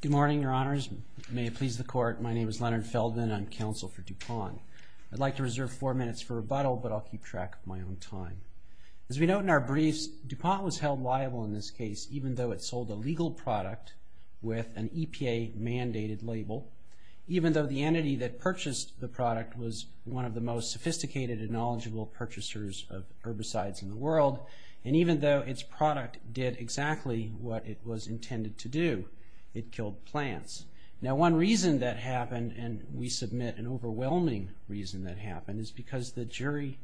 Good morning, your honors. May it please the court, my name is Leonard Feldman. I'm counsel for DuPont. I'd like to reserve four minutes for rebuttal, but I'll keep track of my own time. As we note in our briefs, DuPont was held liable in this case even though it sold a legal product with an EPA mandated label, even though the entity that purchased the product was one of the most sophisticated and knowledgeable purchasers of herbicides in the world, and even though its product did exactly what it was intended to do, it killed plants. Now one reason that happened, and we submit an overwhelming reason that happened, is because the jury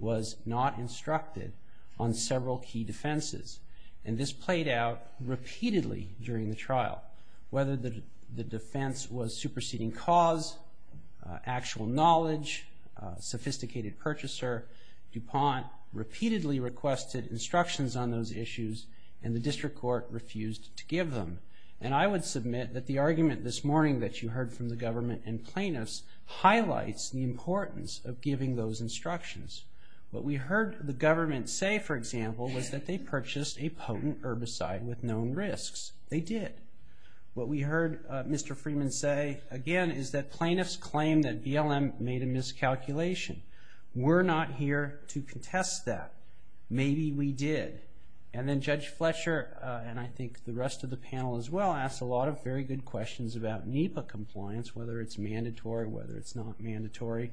was not instructed on several key defenses, and this played out repeatedly during the trial. Whether the defense was superseding cause, actual knowledge, sophisticated purchaser, DuPont repeatedly requested instructions on those issues, and the district court refused to give them, and I would submit that the argument this morning that you heard from the government and plaintiffs highlights the importance of giving those instructions. What we heard the government say, for example, was that they purchased a potent herbicide with known risks. They did. What we heard Mr. Freeman say again is that plaintiffs claim that BLM made a miscalculation. We're not here to contest that. Maybe we did, and then Judge Fletcher, and I think the rest of the panel as well, asked a lot of very good questions about NEPA compliance, whether it's mandatory, whether it's not mandatory,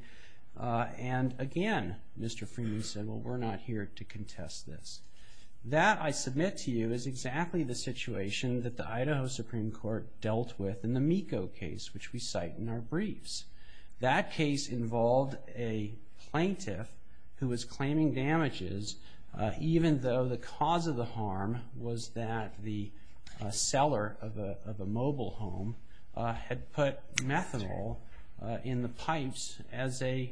and again Mr. Freeman said, well we're not here to contest this. That, I submit to you, is exactly the situation that the Idaho Supreme Court dealt with in the MECO case, which we cite in our briefs. That case involved a plaintiff who was claiming damages, even though the cause of the harm was that the seller of a mobile home had put methanol in the pipes as a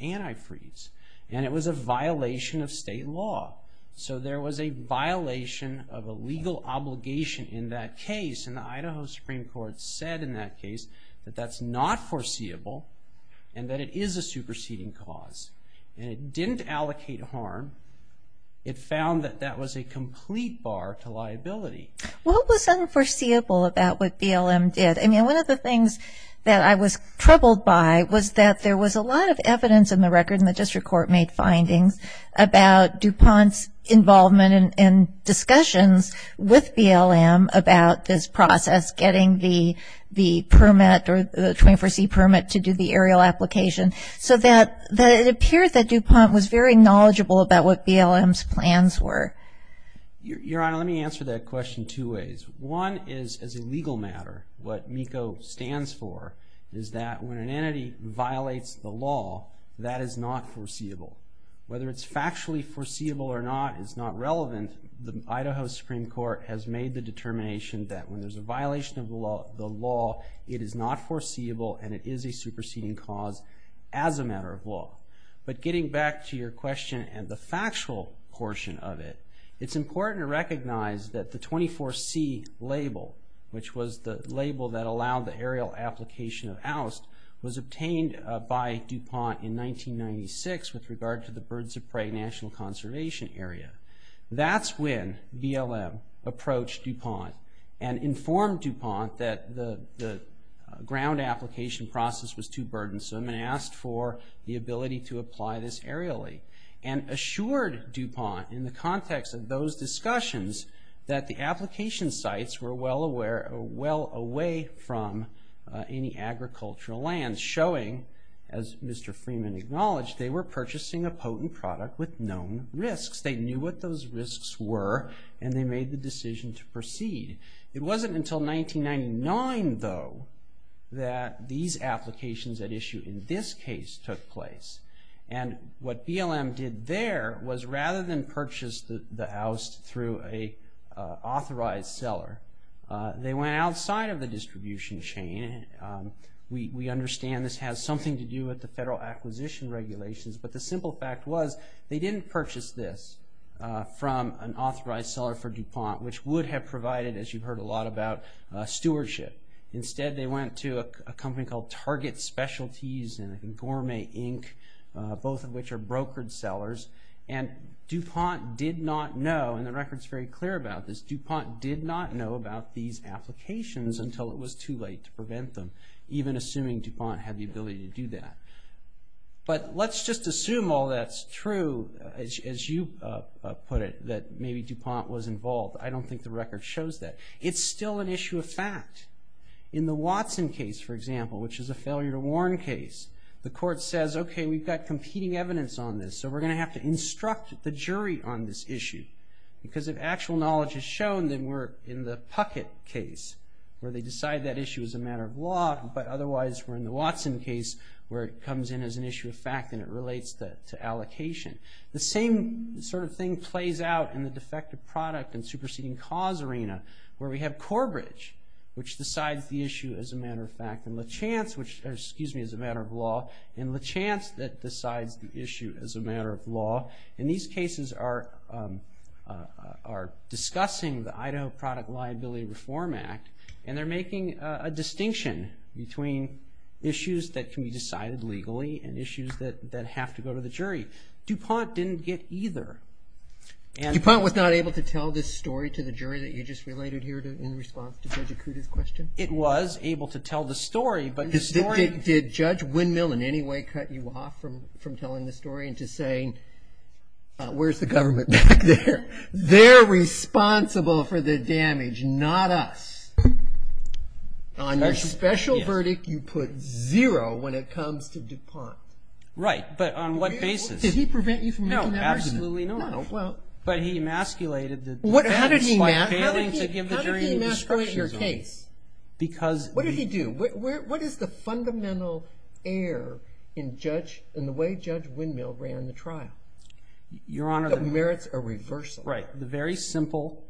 antifreeze, and it was a violation of state law. So there was a violation of a legal obligation in that case, and the Idaho Supreme Court said in that case that that's not foreseeable, and that it is a superseding cause, and it didn't allocate harm. It found that that was a complete bar to liability. What was unforeseeable about what BLM did? I mean, one of the things that I was troubled by was that there was a lot of evidence in the record, and the district court made findings about DuPont's involvement and discussions with BLM about this process, getting the permit or the 24C permit to do the aerial application, so that it appeared that DuPont was very knowledgeable about what BLM's plans were. Your Honor, let me answer that question two ways. One is, as a legal matter, what MECO stands for is that when an entity violates the law, that is not foreseeable. Whether it's factually foreseeable or not is not information that when there's a violation of the law, it is not foreseeable, and it is a superseding cause as a matter of law. But getting back to your question and the factual portion of it, it's important to recognize that the 24C label, which was the label that allowed the aerial application of oust, was obtained by DuPont in 1996 with regard to the Birds of Prey National Conservation Area. That's when BLM approached DuPont and informed DuPont that the ground application process was too burdensome and asked for the ability to apply this aerially, and assured DuPont in the context of those discussions that the application sites were well aware, well away from any agricultural lands, showing as Mr. Freeman acknowledged, they were purchasing a potent product with known risks. They knew what those risks were and they made the decision to proceed. It wasn't until 1999, though, that these applications at issue in this case took place, and what BLM did there was rather than purchase the oust through a authorized seller, they went outside of the distribution chain. We understand this has something to do with the federal acquisition regulations, but the difference is this, from an authorized seller for DuPont, which would have provided, as you've heard a lot about, stewardship. Instead they went to a company called Target Specialties and Gourmet Inc., both of which are brokered sellers, and DuPont did not know, and the record's very clear about this, DuPont did not know about these applications until it was too late to prevent them, even assuming DuPont had the ability to do that. But let's just assume all that's true, as you put it, that maybe DuPont was involved. I don't think the record shows that. It's still an issue of fact. In the Watson case, for example, which is a failure to warn case, the court says, okay, we've got competing evidence on this, so we're going to have to instruct the jury on this issue, because if actual knowledge is shown, then we're in the Puckett case, where they decide that issue is a matter of law, but otherwise we're in the Watson case, where it comes in as an issue of fact and it relates to allocation. The same sort of thing plays out in the defective product and superseding cause arena, where we have Corbridge, which decides the issue as a matter of fact, and Lachance, which, excuse me, is a matter of law, and Lachance that decides the issue as a matter of law. In these cases are discussing the Idaho Product Liability Reform Act, and they're making a distinction between issues that can be and issues that have to go to the jury. DuPont didn't get either. DuPont was not able to tell this story to the jury that you just related here in response to Judge Akuta's question? It was able to tell the story, but... Did Judge Windmill in any way cut you off from from telling the story into saying, where's the government back there? They're responsible for the damage, not us. On your special verdict, you put zero when it comes to DuPont. Right, but on what basis? Did he prevent you from making that argument? No, absolutely not. But he emasculated the... How did he emasculate your case? Because... What did he do? What is the fundamental error in the way Judge Windmill ran the trial? Your simple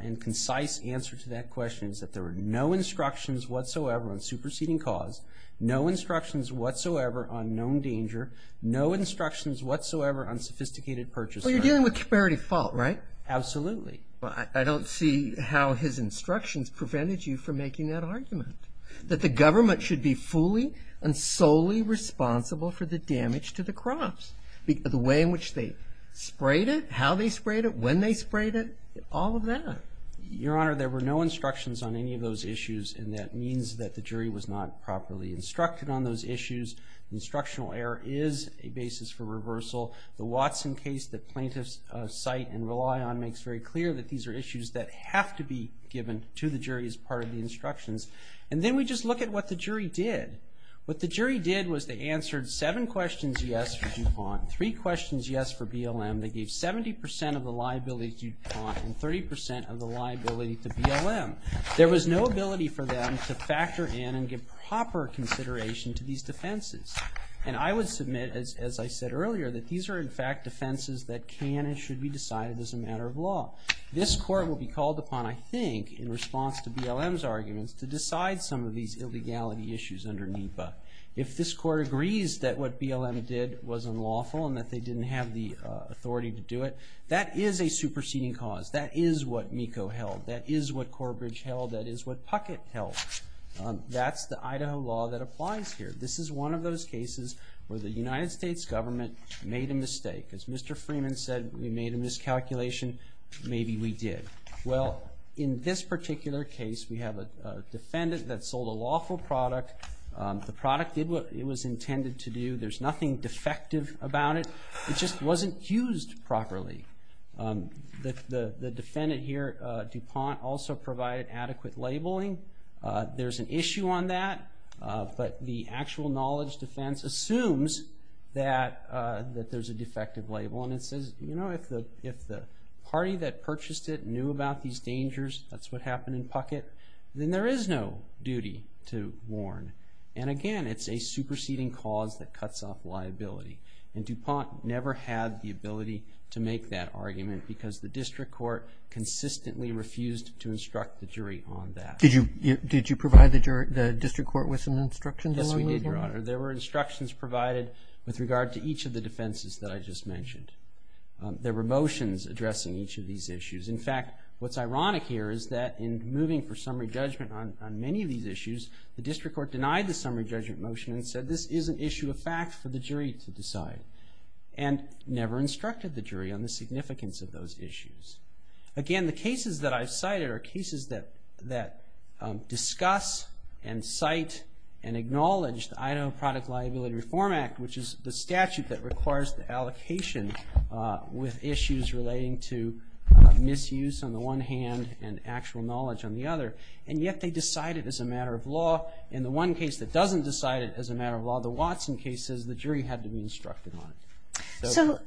and concise answer to that question is that there were no instructions whatsoever on superseding cause, no instructions whatsoever on known danger, no instructions whatsoever on sophisticated purchase... Well, you're dealing with comparative fault, right? Absolutely. Well, I don't see how his instructions prevented you from making that argument. That the government should be fully and solely responsible for the damage to the crops. The way in which they sprayed it, how they sprayed it, when they sprayed it, all of that. Your Honor, there were no instructions on any of those issues and that means that the jury was not properly instructed on those issues. Instructional error is a basis for reversal. The Watson case that plaintiffs cite and rely on makes very clear that these are issues that have to be given to the jury as part of the instructions. And then we just look at what the jury did. What the jury did was they answered seven questions yes for DuPont, three questions yes for BLM. They gave 70% of the liability to DuPont and 30% of the liability to BLM. There was no ability for them to factor in and give proper consideration to these defenses. And I would submit, as I said earlier, that these are in fact defenses that can and should be decided as a matter of law. This court will be called upon, I think, in response to BLM's arguments to decide some of these illegality issues under the DBA. If this court agrees that what BLM did was unlawful and that they didn't have the authority to do it, that is a superseding cause. That is what MECO held. That is what Corbridge held. That is what Puckett held. That's the Idaho law that applies here. This is one of those cases where the United States government made a mistake. As Mr. Freeman said, we made a miscalculation, maybe we did. Well, in this particular case, we have a defendant that sold a lawful product. The product did what it was intended to do. There's nothing defective about it. It just wasn't used properly. The defendant here, DuPont, also provided adequate labeling. There's an issue on that, but the actual knowledge defense assumes that there's a defective label and it says, you know, if the party that purchased it knew about these dangers, that's what they would have done. So, it's a legal duty to warn. And again, it's a superseding cause that cuts off liability. And DuPont never had the ability to make that argument because the district court consistently refused to instruct the jury on that. Did you provide the district court with some instructions? Yes, we did, Your Honor. There were instructions provided with regard to each of the defenses that I just mentioned. There were motions addressing each of these issues. In fact, what's ironic here is that in moving for summary judgment on many of these issues, the district court denied the summary judgment motion and said this is an issue of fact for the jury to decide. And never instructed the jury on the significance of those issues. Again, the cases that I've cited are cases that discuss and cite and acknowledge the Item of Product Liability Reform Act, which is the statute that requires the allocation with issues relating to misuse on the one hand and actual knowledge on the other. And yet, they decide it as a matter of law. In the one case that doesn't decide it as a matter of law, the Watson case, the jury had to be instructed on it. So,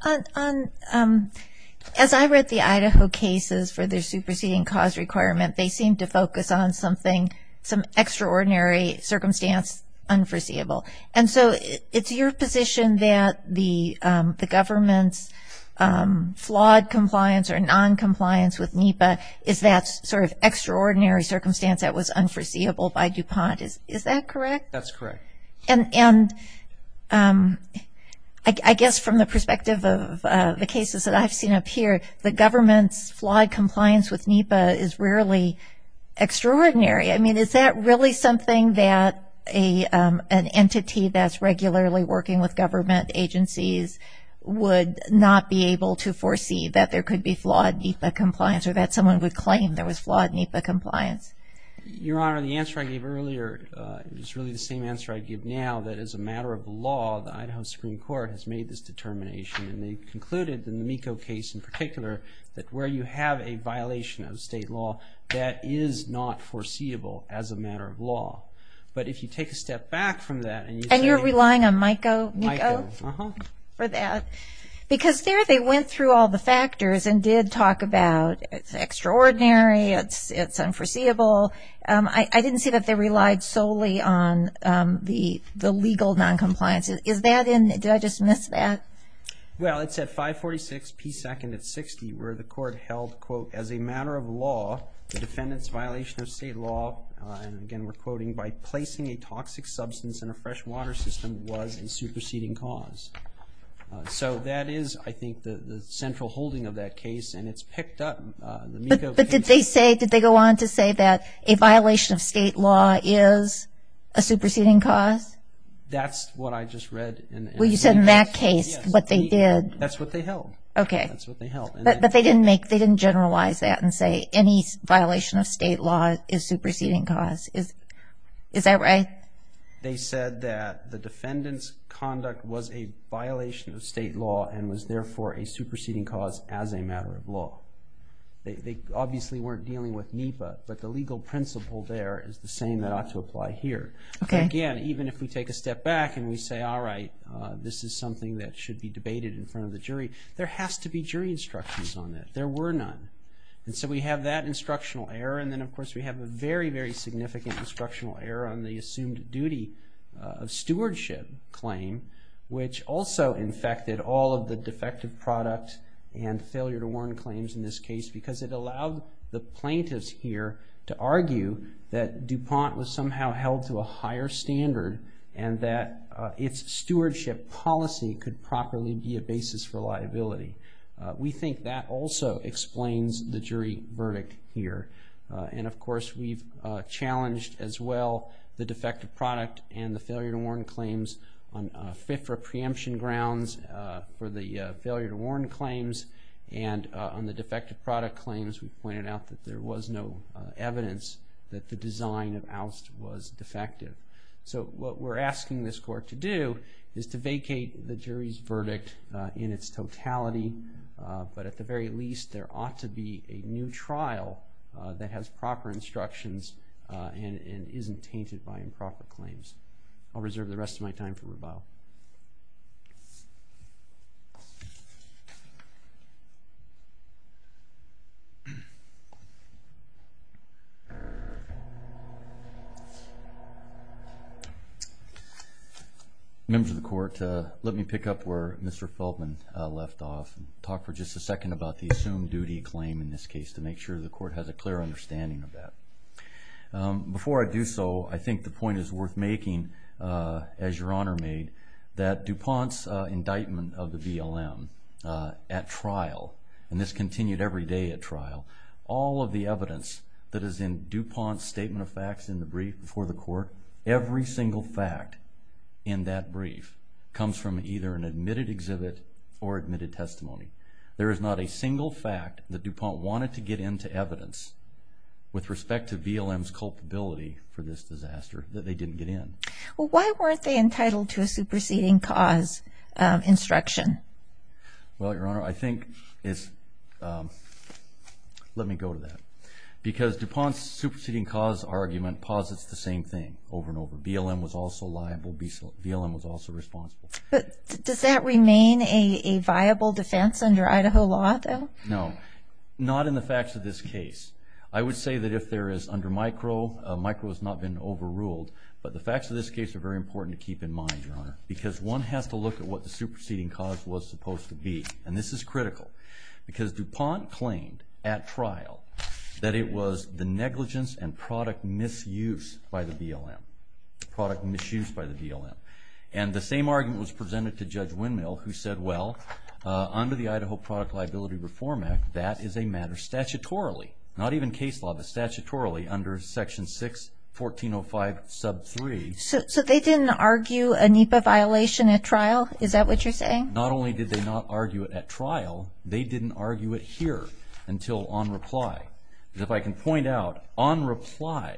as I read the Idaho cases for their superseding cause requirement, they seemed to focus on something, some extraordinary circumstance unforeseeable. And so, it's your position that the government's flawed compliance or non-compliance with NEPA is that sort of extraordinary circumstance that was unforeseeable by DuPont. Is that correct? That's correct. And I guess from the perspective of the cases that I've seen up here, the government's flawed compliance with NEPA is rarely extraordinary. I mean, is that really something that an entity that's regularly working with government agencies would not be able to foresee that there could be flawed NEPA compliance or that someone would claim there was flawed NEPA compliance? Your Honor, the answer I gave earlier is really the same answer I give now, that as a matter of law, the Idaho Supreme Court has made this determination. And they concluded, in the MECO case in particular, that where you have a violation of state law, that is not foreseeable as a matter of law. But if you take a step back from that, and you're relying on MECO for that, because there they went through all the factors and did talk about it's extraordinary, it's unforeseeable. I didn't see that they relied solely on the legal non-compliance. Is that in, did I just miss that? Well, it's at 546 P. 2nd at 60, where the court held, quote, as a matter of law, the defendant's violation of state law, and again we're quoting, by placing a fresh water system, was in superseding cause. So that is, I think, the central holding of that case, and it's picked up in the MECO case. But did they say, did they go on to say that a violation of state law is a superseding cause? That's what I just read. Well, you said in that case, what they did. That's what they held. Okay. That's what they held. But they didn't make, they didn't generalize that and say any violation of state law is superseding cause. Is that right? They said that the defendant's conduct was a violation of state law and was therefore a superseding cause as a matter of law. They obviously weren't dealing with NEPA, but the legal principle there is the same that ought to apply here. Okay. Again, even if we take a step back and we say, all right, this is something that should be debated in front of the jury, there has to be jury instructions on that. There were none. And so we have that instructional error, and then of course, the assumed duty of stewardship claim, which also infected all of the defective product and failure to warn claims in this case, because it allowed the plaintiffs here to argue that DuPont was somehow held to a higher standard and that its stewardship policy could properly be a basis for liability. We think that also explains the jury verdict here. And of course, we've challenged as well the defective product and the failure to warn claims on FIFRA preemption grounds for the failure to warn claims. And on the defective product claims, we pointed out that there was no evidence that the design of ALST was defective. So what we're asking this court to do is to vacate the jury's verdict in its trial that has proper instructions and isn't tainted by improper claims. I'll reserve the rest of my time for Rebao. Members of the court, let me pick up where Mr. Feldman left off and talk for just a second about the assumed duty claim in this case to make sure the court has a clear understanding of that. Before I do so, I think the point is worth making, as Your Honor made, that DuPont's indictment of the BLM at trial, and this continued every day at trial, all of the evidence that is in DuPont's statement of facts in the brief before the court, every single fact in that brief comes from either an admitted exhibit or admitted testimony. There is not a single fact that DuPont wanted to get into evidence with respect to BLM's culpability for this disaster that they didn't get in. Well, why weren't they entitled to a superseding cause instruction? Well, Your Honor, I think it's... Let me go to that. Because DuPont's superseding cause argument posits the same thing over and over, BLM was also liable, BLM was also responsible. But does that remain a viable defense under Idaho law, though? No, not in the facts of this case. I would say that if there is under micro, micro has not been overruled. But the facts of this case are very important to keep in mind, Your Honor, because one has to look at what the superseding cause was supposed to be. And this is critical, because DuPont claimed at trial that it was the negligence and product misuse by the BLM, product misuse by the BLM. And the same argument was presented to Judge Windmill, who said, well, under the Idaho Product Liability Reform Act, that is a matter statutorily. Not even case law, but statutorily under section 6, 1405 sub 3. So they didn't argue a NEPA violation at trial? Is that what you're saying? Not only did they not argue it at trial, they didn't argue it here until on reply. If I can point out, on reply,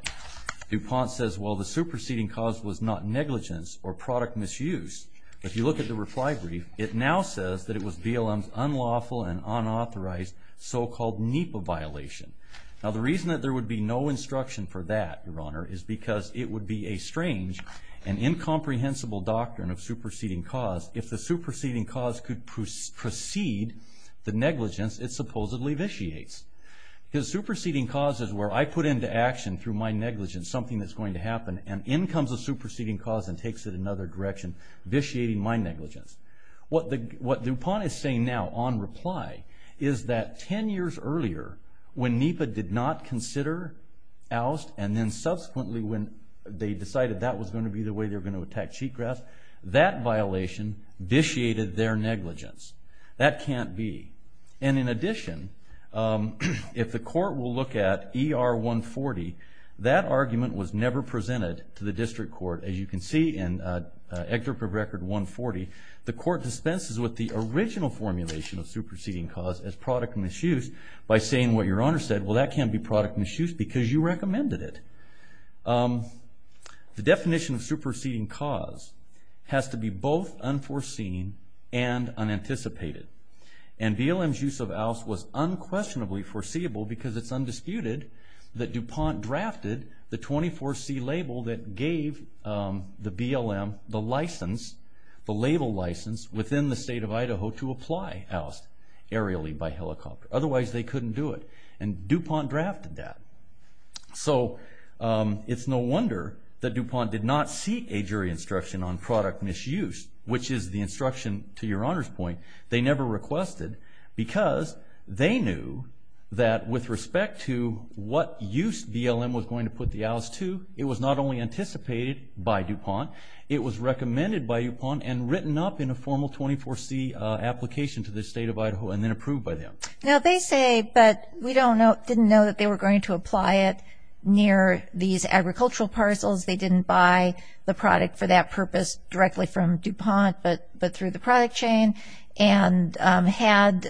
DuPont says, well, the superseding cause was not negligence or product misuse, but if you look at the reply brief, it now says that it was BLM's unlawful and unauthorized so-called NEPA violation. Now, the reason that there would be no instruction for that, Your Honor, is because it would be a strange and incomprehensible doctrine of superseding cause if the superseding cause could precede the negligence it supposedly vitiates. Because superseding cause is where I put into action through my negligence something that's going to happen, and in comes a superseding cause and takes it another direction, vitiating my negligence. What DuPont is saying now, on reply, is that 10 years earlier, when NEPA did not consider oust, and then subsequently, when they decided that was going to be the way they're going to attack cheatgrass, that violation vitiated their negligence. That can't be. And in addition, if the court will look at ER 140, that argument was never presented to the district court. As you can see in excerpt of record 140, the court dispenses with the original formulation of superseding cause as product misuse by saying what Your Honor said, well, that can't be product misuse because you recommended it. The definition of superseding cause has to be both unforeseen and unanticipated. And BLM's use of oust was unquestionably foreseeable because it's undisputed that DuPont drafted the 24C label that gave the BLM the license, the label license, within the state of Idaho to apply oust aerially by helicopter. Otherwise, they couldn't do it. And DuPont drafted that. So it's no wonder that DuPont did not seek a jury instruction on product misuse, which is the instruction, to Your Honor's point, they never requested, because they knew that with respect to what use BLM was going to put the oust to, it was not only anticipated by DuPont, it was recommended by DuPont and written up in a formal 24C application to the state of Idaho and then approved by them. Now they say, but we don't know, didn't know that they were going to apply it near these agricultural parcels. They didn't buy the product for that purpose directly from DuPont, but through the product chain. And had,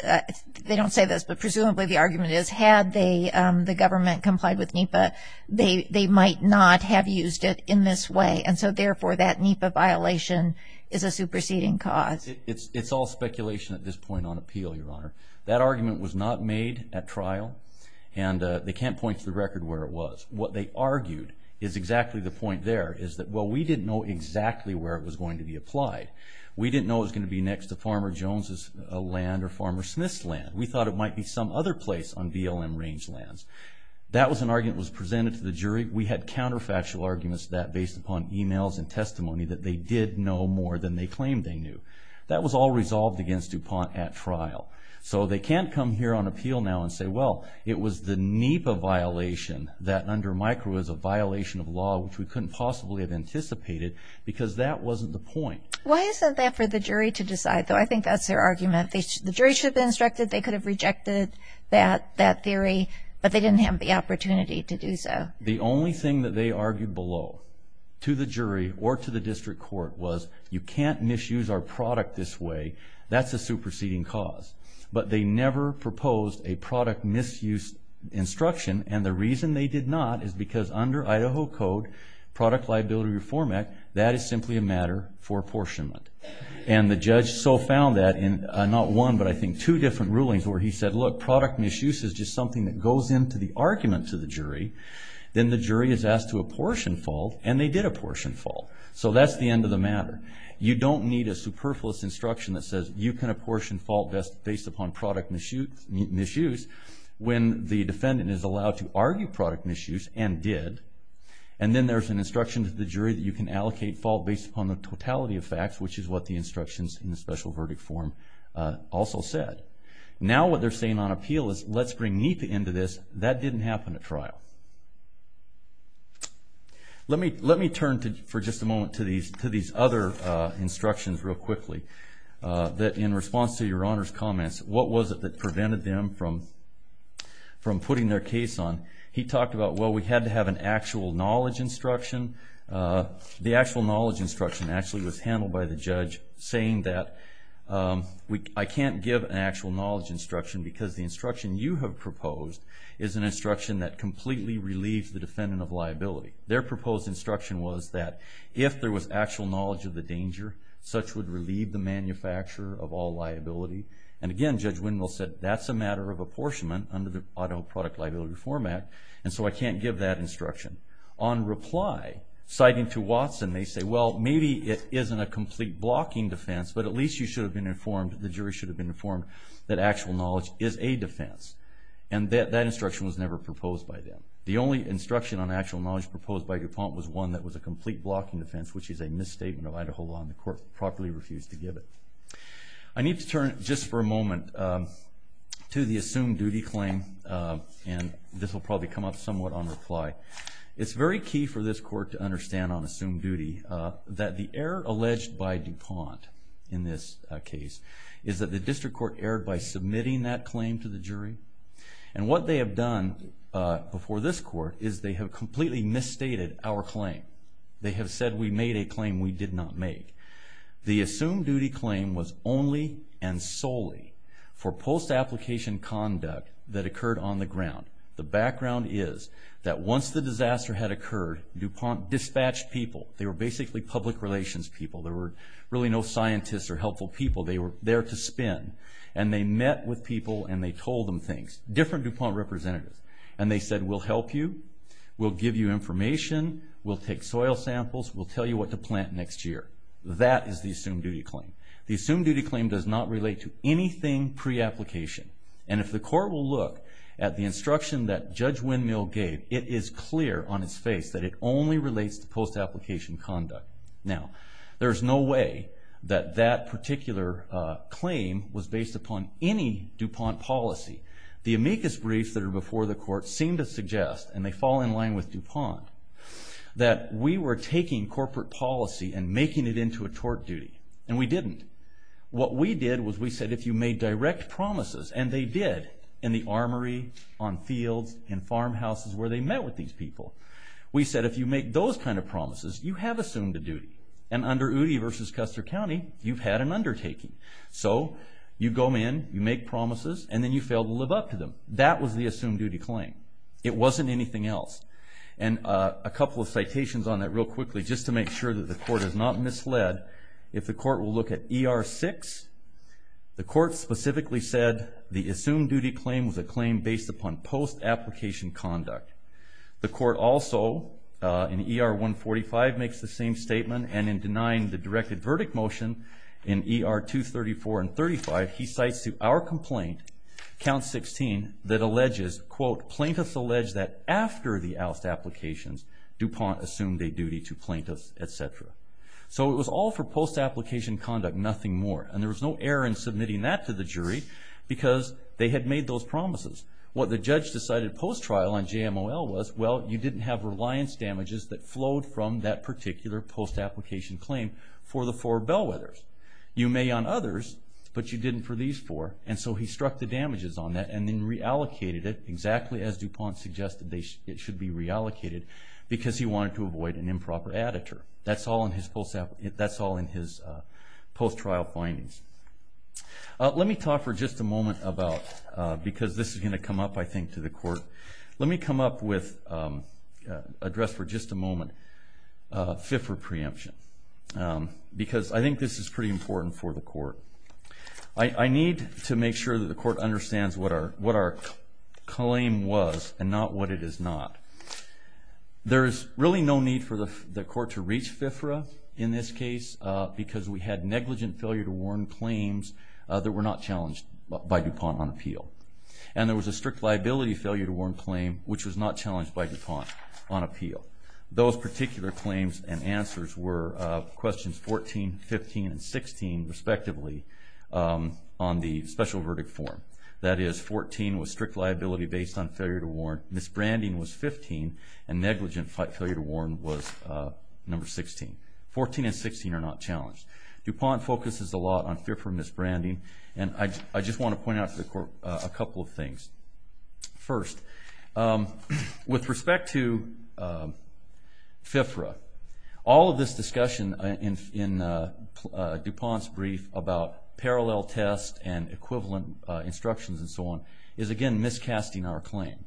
they don't say this, but presumably the argument is, had the government complied with NEPA, they might not have used it in this way. And so, therefore, that NEPA violation is a superseding cause. It's all speculation at this point on appeal, Your Honor. That argument was not made at trial, and they can't point to the record where it was. We didn't know exactly where it was going to be applied. We didn't know it was going to be next to Farmer Jones' land or Farmer Smith's land. We thought it might be some other place on BLM rangelands. That was an argument that was presented to the jury. We had counterfactual arguments to that based upon emails and testimony that they did know more than they claimed they knew. That was all resolved against DuPont at trial. So they can't come here on appeal now and say, well, it was the NEPA violation that under micro was a violation of law, which we couldn't possibly have anticipated, because that wasn't the point. Why isn't that for the jury to decide, though? I think that's their argument. The jury should have been instructed. They could have rejected that theory, but they didn't have the opportunity to do so. The only thing that they argued below, to the jury or to the district court, was you can't misuse our product this way. That's a superseding cause. But they never proposed a product misuse instruction, and the reason they did not is because under Idaho Code, Product Liability Reform Act, that is simply a matter for apportionment. And the judge so found that in not one, but I think two different rulings where he said, look, product misuse is just something that goes into the argument to the jury. Then the jury is asked to apportion fault, and they did apportion fault. So that's the end of the matter. You don't need a superfluous instruction that says you can apportion fault based upon product misuse when the defendant is allowed to argue product misuse and did. And then there's an instruction to the jury that you can allocate fault based upon the totality of facts, which is what the instructions in the special verdict form also said. Now what they're saying on appeal is, let's bring NEPA into this. That didn't happen at trial. Let me turn for just a moment to these other instructions real quickly. That in response to your honor's comments, what was it that prevented them from putting their case on? He talked about, well, we had to have an actual knowledge instruction. The actual knowledge instruction actually was handled by the judge, saying that I can't give an actual knowledge instruction because the instruction you have proposed is an instruction that completely relieves the defendant of liability. Such would relieve the manufacturer of all liability. And again, Judge Wendell said, that's a matter of apportionment under the Idaho Product Liability Reform Act, and so I can't give that instruction. On reply, citing to Watson, they say, well, maybe it isn't a complete blocking defense, but at least you should have been informed, the jury should have been informed, that actual knowledge is a defense. And that instruction was never proposed by them. The only instruction on actual knowledge proposed by DuPont was one that was a complete blocking defense, which is a misstatement of Idaho law, and the court properly refused to give it. I need to turn, just for a moment, to the assumed duty claim, and this will probably come up somewhat on reply. It's very key for this court to understand on assumed duty that the error alleged by DuPont in this case is that the district court erred by submitting that claim to the jury. And what they have done before this court is they have completely misstated our claim. They have said we made a claim we did not make. The assumed duty claim was only and solely for post-application conduct that occurred on the ground. The background is that once the disaster had occurred, DuPont dispatched people. They were basically public relations people. There were really no scientists or helpful people. They were there to spin. And they met with people and they told them things, different DuPont representatives. And they said, we'll help you. We'll give you information. We'll take soil samples. We'll tell you what to plant next year. That is the assumed duty claim. The assumed duty claim does not relate to anything pre-application. And if the court will look at the instruction that Judge Windmill gave, it is clear on its face that it only relates to post-application conduct. Now, there's no way that that particular claim was based upon any DuPont policy. The amicus briefs that are before the court seem to suggest, and they fall in line with DuPont, that we were taking corporate policy and making it into a tort duty. And we didn't. What we did was we said, if you made direct promises, and they did in the armory, on fields, in farmhouses where they met with these people. We said, if you make those kind of promises, you have assumed a duty. And under Uti versus Custer County, you've had an undertaking. So you go in, you make promises, and then you fail to live up to them. That was the assumed duty claim. It wasn't anything else. And a couple of citations on that real quickly, just to make sure that the court is not misled. If the court will look at ER 6, the court specifically said the assumed duty claim was a claim based upon post-application conduct. The court also, in ER 145, makes the same statement. And in denying the directed verdict motion in ER 234 and 35, he cites to our complaint, count 16, that alleges, quote, plaintiffs allege that after the oust applications, DuPont assumed a duty to plaintiffs, et cetera. So it was all for post-application conduct, nothing more. And there was no error in submitting that to the jury, because they had made those promises. What the judge decided post-trial on JMOL was, well, you didn't have reliance damages that flowed from that particular post-application claim for the four Bellwethers. You may on others, but you didn't for these four. And so he struck the damages on that and then reallocated it, exactly as DuPont suggested it should be reallocated, because he wanted to avoid an improper additor. That's all in his post-trial findings. Let me talk for just a moment about, because this is going to come up, I think, to the court. Let me come up with, address for just a moment, FIFRA preemption. Because I think this is pretty important for the court. I need to make sure that the court understands what our claim was and not what it is not. There is really no need for the court to reach FIFRA in this case, because we had negligent failure to warn claims that were not challenged by DuPont on appeal. And there was a strict liability failure to warn claim, which was not challenged by DuPont on appeal. Those particular claims and answers were questions 14, 15, and 16, respectively, on the special verdict form. That is, 14 was strict liability based on failure to warn. Misbranding was 15. And negligent failure to warn was number 16. 14 and 16 are not challenged. DuPont focuses a lot on fearful misbranding. And I just want to point out to the court a couple of things. First, with respect to FIFRA, all of this discussion in DuPont's brief about parallel test and equivalent instructions and so on is, again, miscasting our claim.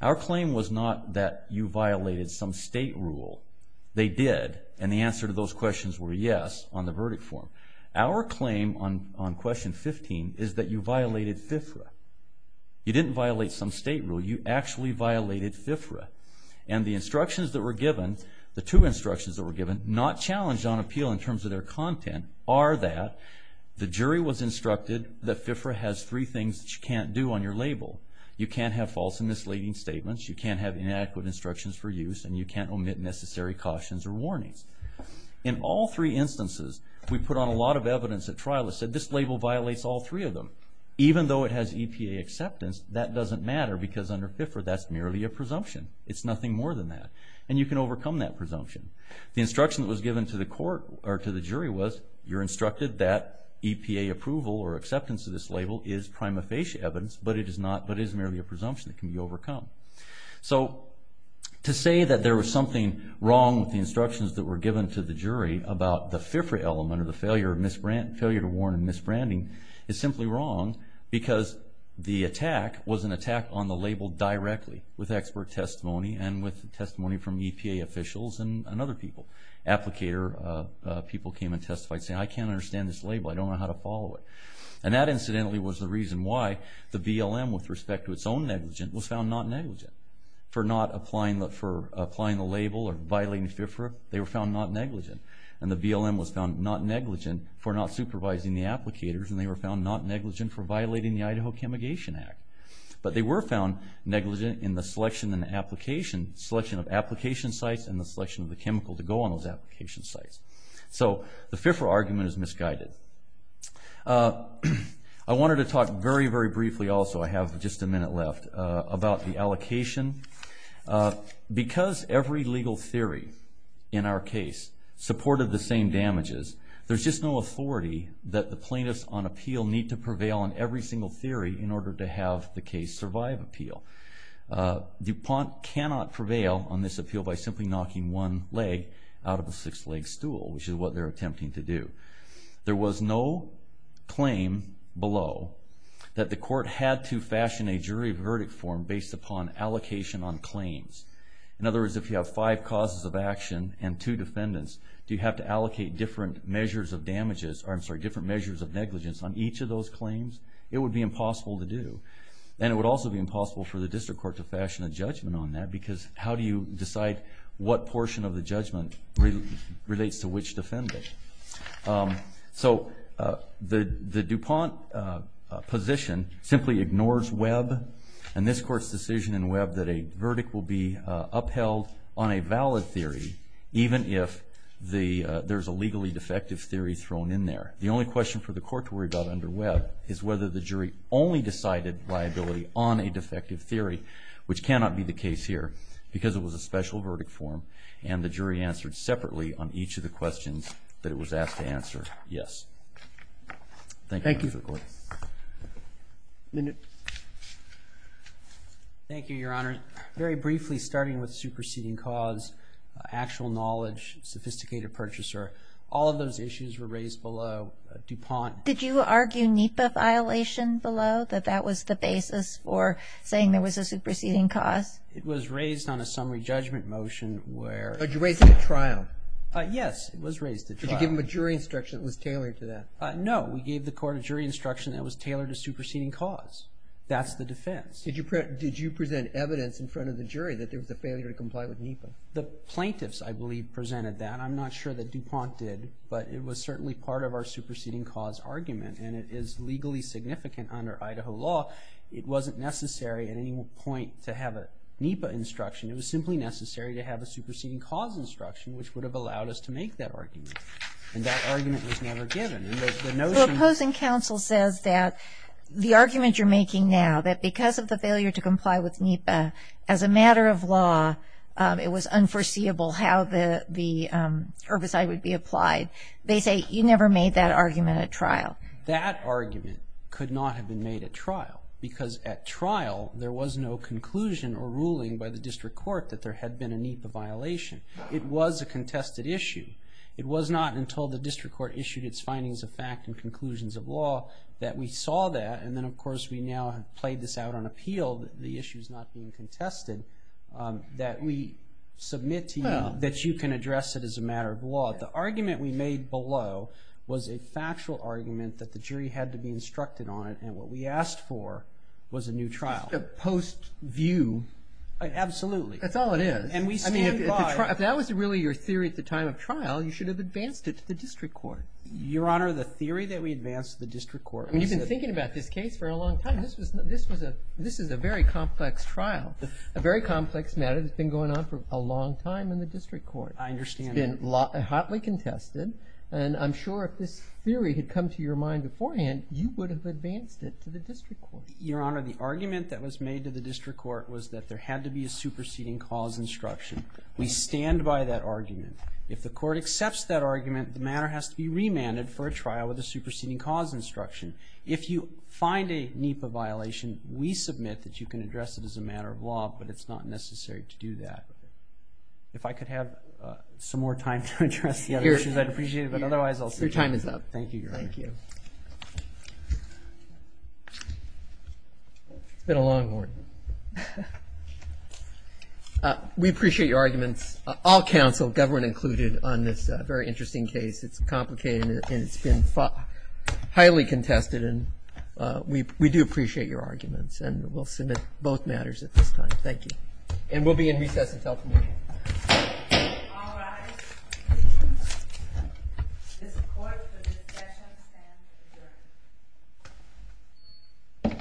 Our claim was not that you violated some state rule. They did. And the answer to those questions were yes on the verdict form. Our claim on question 15 is that you violated FIFRA. You didn't violate some state rule. You actually violated FIFRA. And the instructions that were given, the two instructions that were given, not challenged on appeal in terms of their content, are that the jury was instructed that FIFRA has three things that you can't do on your label. You can't have false and misleading statements. You can't have inadequate instructions for use. And you can't omit necessary cautions or warnings. In all three instances, we put on a lot of evidence at trial that said this label violates all three of them, even though it has EPA acceptance. That doesn't matter because under FIFRA, that's merely a presumption. It's nothing more than that. And you can overcome that presumption. The instruction that was given to the court or to the jury was you're instructed that EPA approval or acceptance of this label is prima facie evidence, but it is not, but is merely a presumption that can be overcome. So to say that there was something wrong with the instructions that were given to the jury about the FIFRA element or the failure to warn or misbranding is simply wrong because the attack was an attack on the label directly with expert testimony and with testimony from EPA officials and other people. Applicator people came and testified saying, I can't understand this label. I don't know how to follow it. And that incidentally was the reason why the BLM, with respect to its own negligence, was found not negligent for not applying the label or violating FIFRA. They were found not negligent. And the BLM was found not negligent for not supervising the applicators, and they were found not negligent for violating the Idaho Chemigation Act. But they were found negligent in the selection and the application, selection of application sites and the selection of the chemical to go on those application sites. So the FIFRA argument is misguided. I wanted to talk very, very briefly also, I have just a minute left, about the allocation. Because every legal theory in our case supported the same damages, there's just no authority that the plaintiffs on appeal need to prevail on every single theory in order to have the case survive appeal. DuPont cannot prevail on this appeal by simply knocking one leg out of the six-leg stool, which is what they're attempting to do. There was no claim below that the court had to fashion a jury verdict form based upon allocation on claims. In other words, if you have five causes of action and two defendants, do you have to allocate different measures of damages, or I'm sorry, different measures of negligence on each of those claims? It would be impossible to do. And it would also be impossible for the district court to fashion a judgment on that because how do you decide what portion of the judgment relates to which defendant? So the DuPont position simply ignores Webb and this court's decision in Webb that a verdict will be upheld on a valid theory, even if there's a legally defective theory thrown in there. The only question for the court to worry about under Webb is whether the jury only decided liability on a defective theory, which cannot be the case here because it was a special verdict form and the jury answered separately on each of the questions that it was asked to answer, yes. Thank you. Thank you, Your Honor. Very briefly, starting with superseding cause, actual knowledge, sophisticated purchaser, all of those issues were raised below DuPont. Did you argue NEPA violation below, that that was the basis for saying there was a superseding cause? It was raised on a summary judgment motion where- But you raised it at trial. Yes, it was raised at trial. Did you give them a jury instruction that was tailored to that? No, we gave the court a jury instruction that was tailored to superseding cause. That's the defense. Did you present evidence in front of the jury that there was a failure to comply with NEPA? The plaintiffs, I believe, presented that. I'm not sure that DuPont did, but it was certainly part of our superseding cause argument and it is legally significant under Idaho law. It wasn't necessary at any point to have a NEPA instruction. It was simply necessary to have a superseding cause instruction, which would have allowed us to make that argument. And that argument was never given. And the notion- The opposing counsel says that the argument you're making now, that because of the failure to comply with NEPA, as a matter of law, it was unforeseeable how the herbicide would be applied. They say, you never made that argument at trial. That argument could not have been made at trial because at trial, there was no conclusion or ruling by the district court that there had been a NEPA violation. It was a contested issue. It was not until the district court issued its findings of fact and conclusions of law that we saw that. And then, of course, we now have played this out on appeal that the issue's not being contested, that we submit to you that you can address it as a matter of law. The argument we made below was a factual argument that the jury had to be instructed on it. And what we asked for was a new trial. Just a post-view. Absolutely. That's all it is. And we stand by- If that was really your theory at the time of trial, you should have advanced it to the district court. Your Honor, the theory that we advanced to the district court- You've been thinking about this case for a long time. This is a very complex trial. A very complex matter that's been going on for a long time in the district court. I understand that. It's been hotly contested. And I'm sure if this theory had come to your mind beforehand, you would have advanced it to the district court. Your Honor, the argument that was made to the district court was that there had to be a superseding cause instruction. We stand by that argument. If the court accepts that argument, the matter has to be remanded for a trial with a superseding cause instruction. If you find a NEPA violation, we submit that you can address it as a matter of law, but it's not necessary to do that. If I could have some more time to address the other issues, I'd appreciate it. But otherwise, I'll- Your time is up. Thank you, Your Honor. Thank you. It's been a long morning. We appreciate your arguments. All counsel, government included, on this very interesting case. It's complicated, and it's been highly contested. And we do appreciate your arguments. And we'll submit both matters at this time. Thank you. And we'll be in recess until tomorrow. All rise. This court for this session stands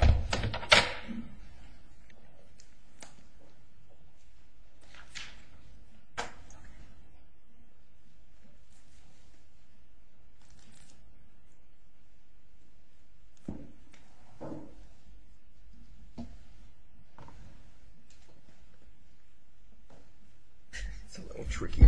adjourned. It's a little tricky here.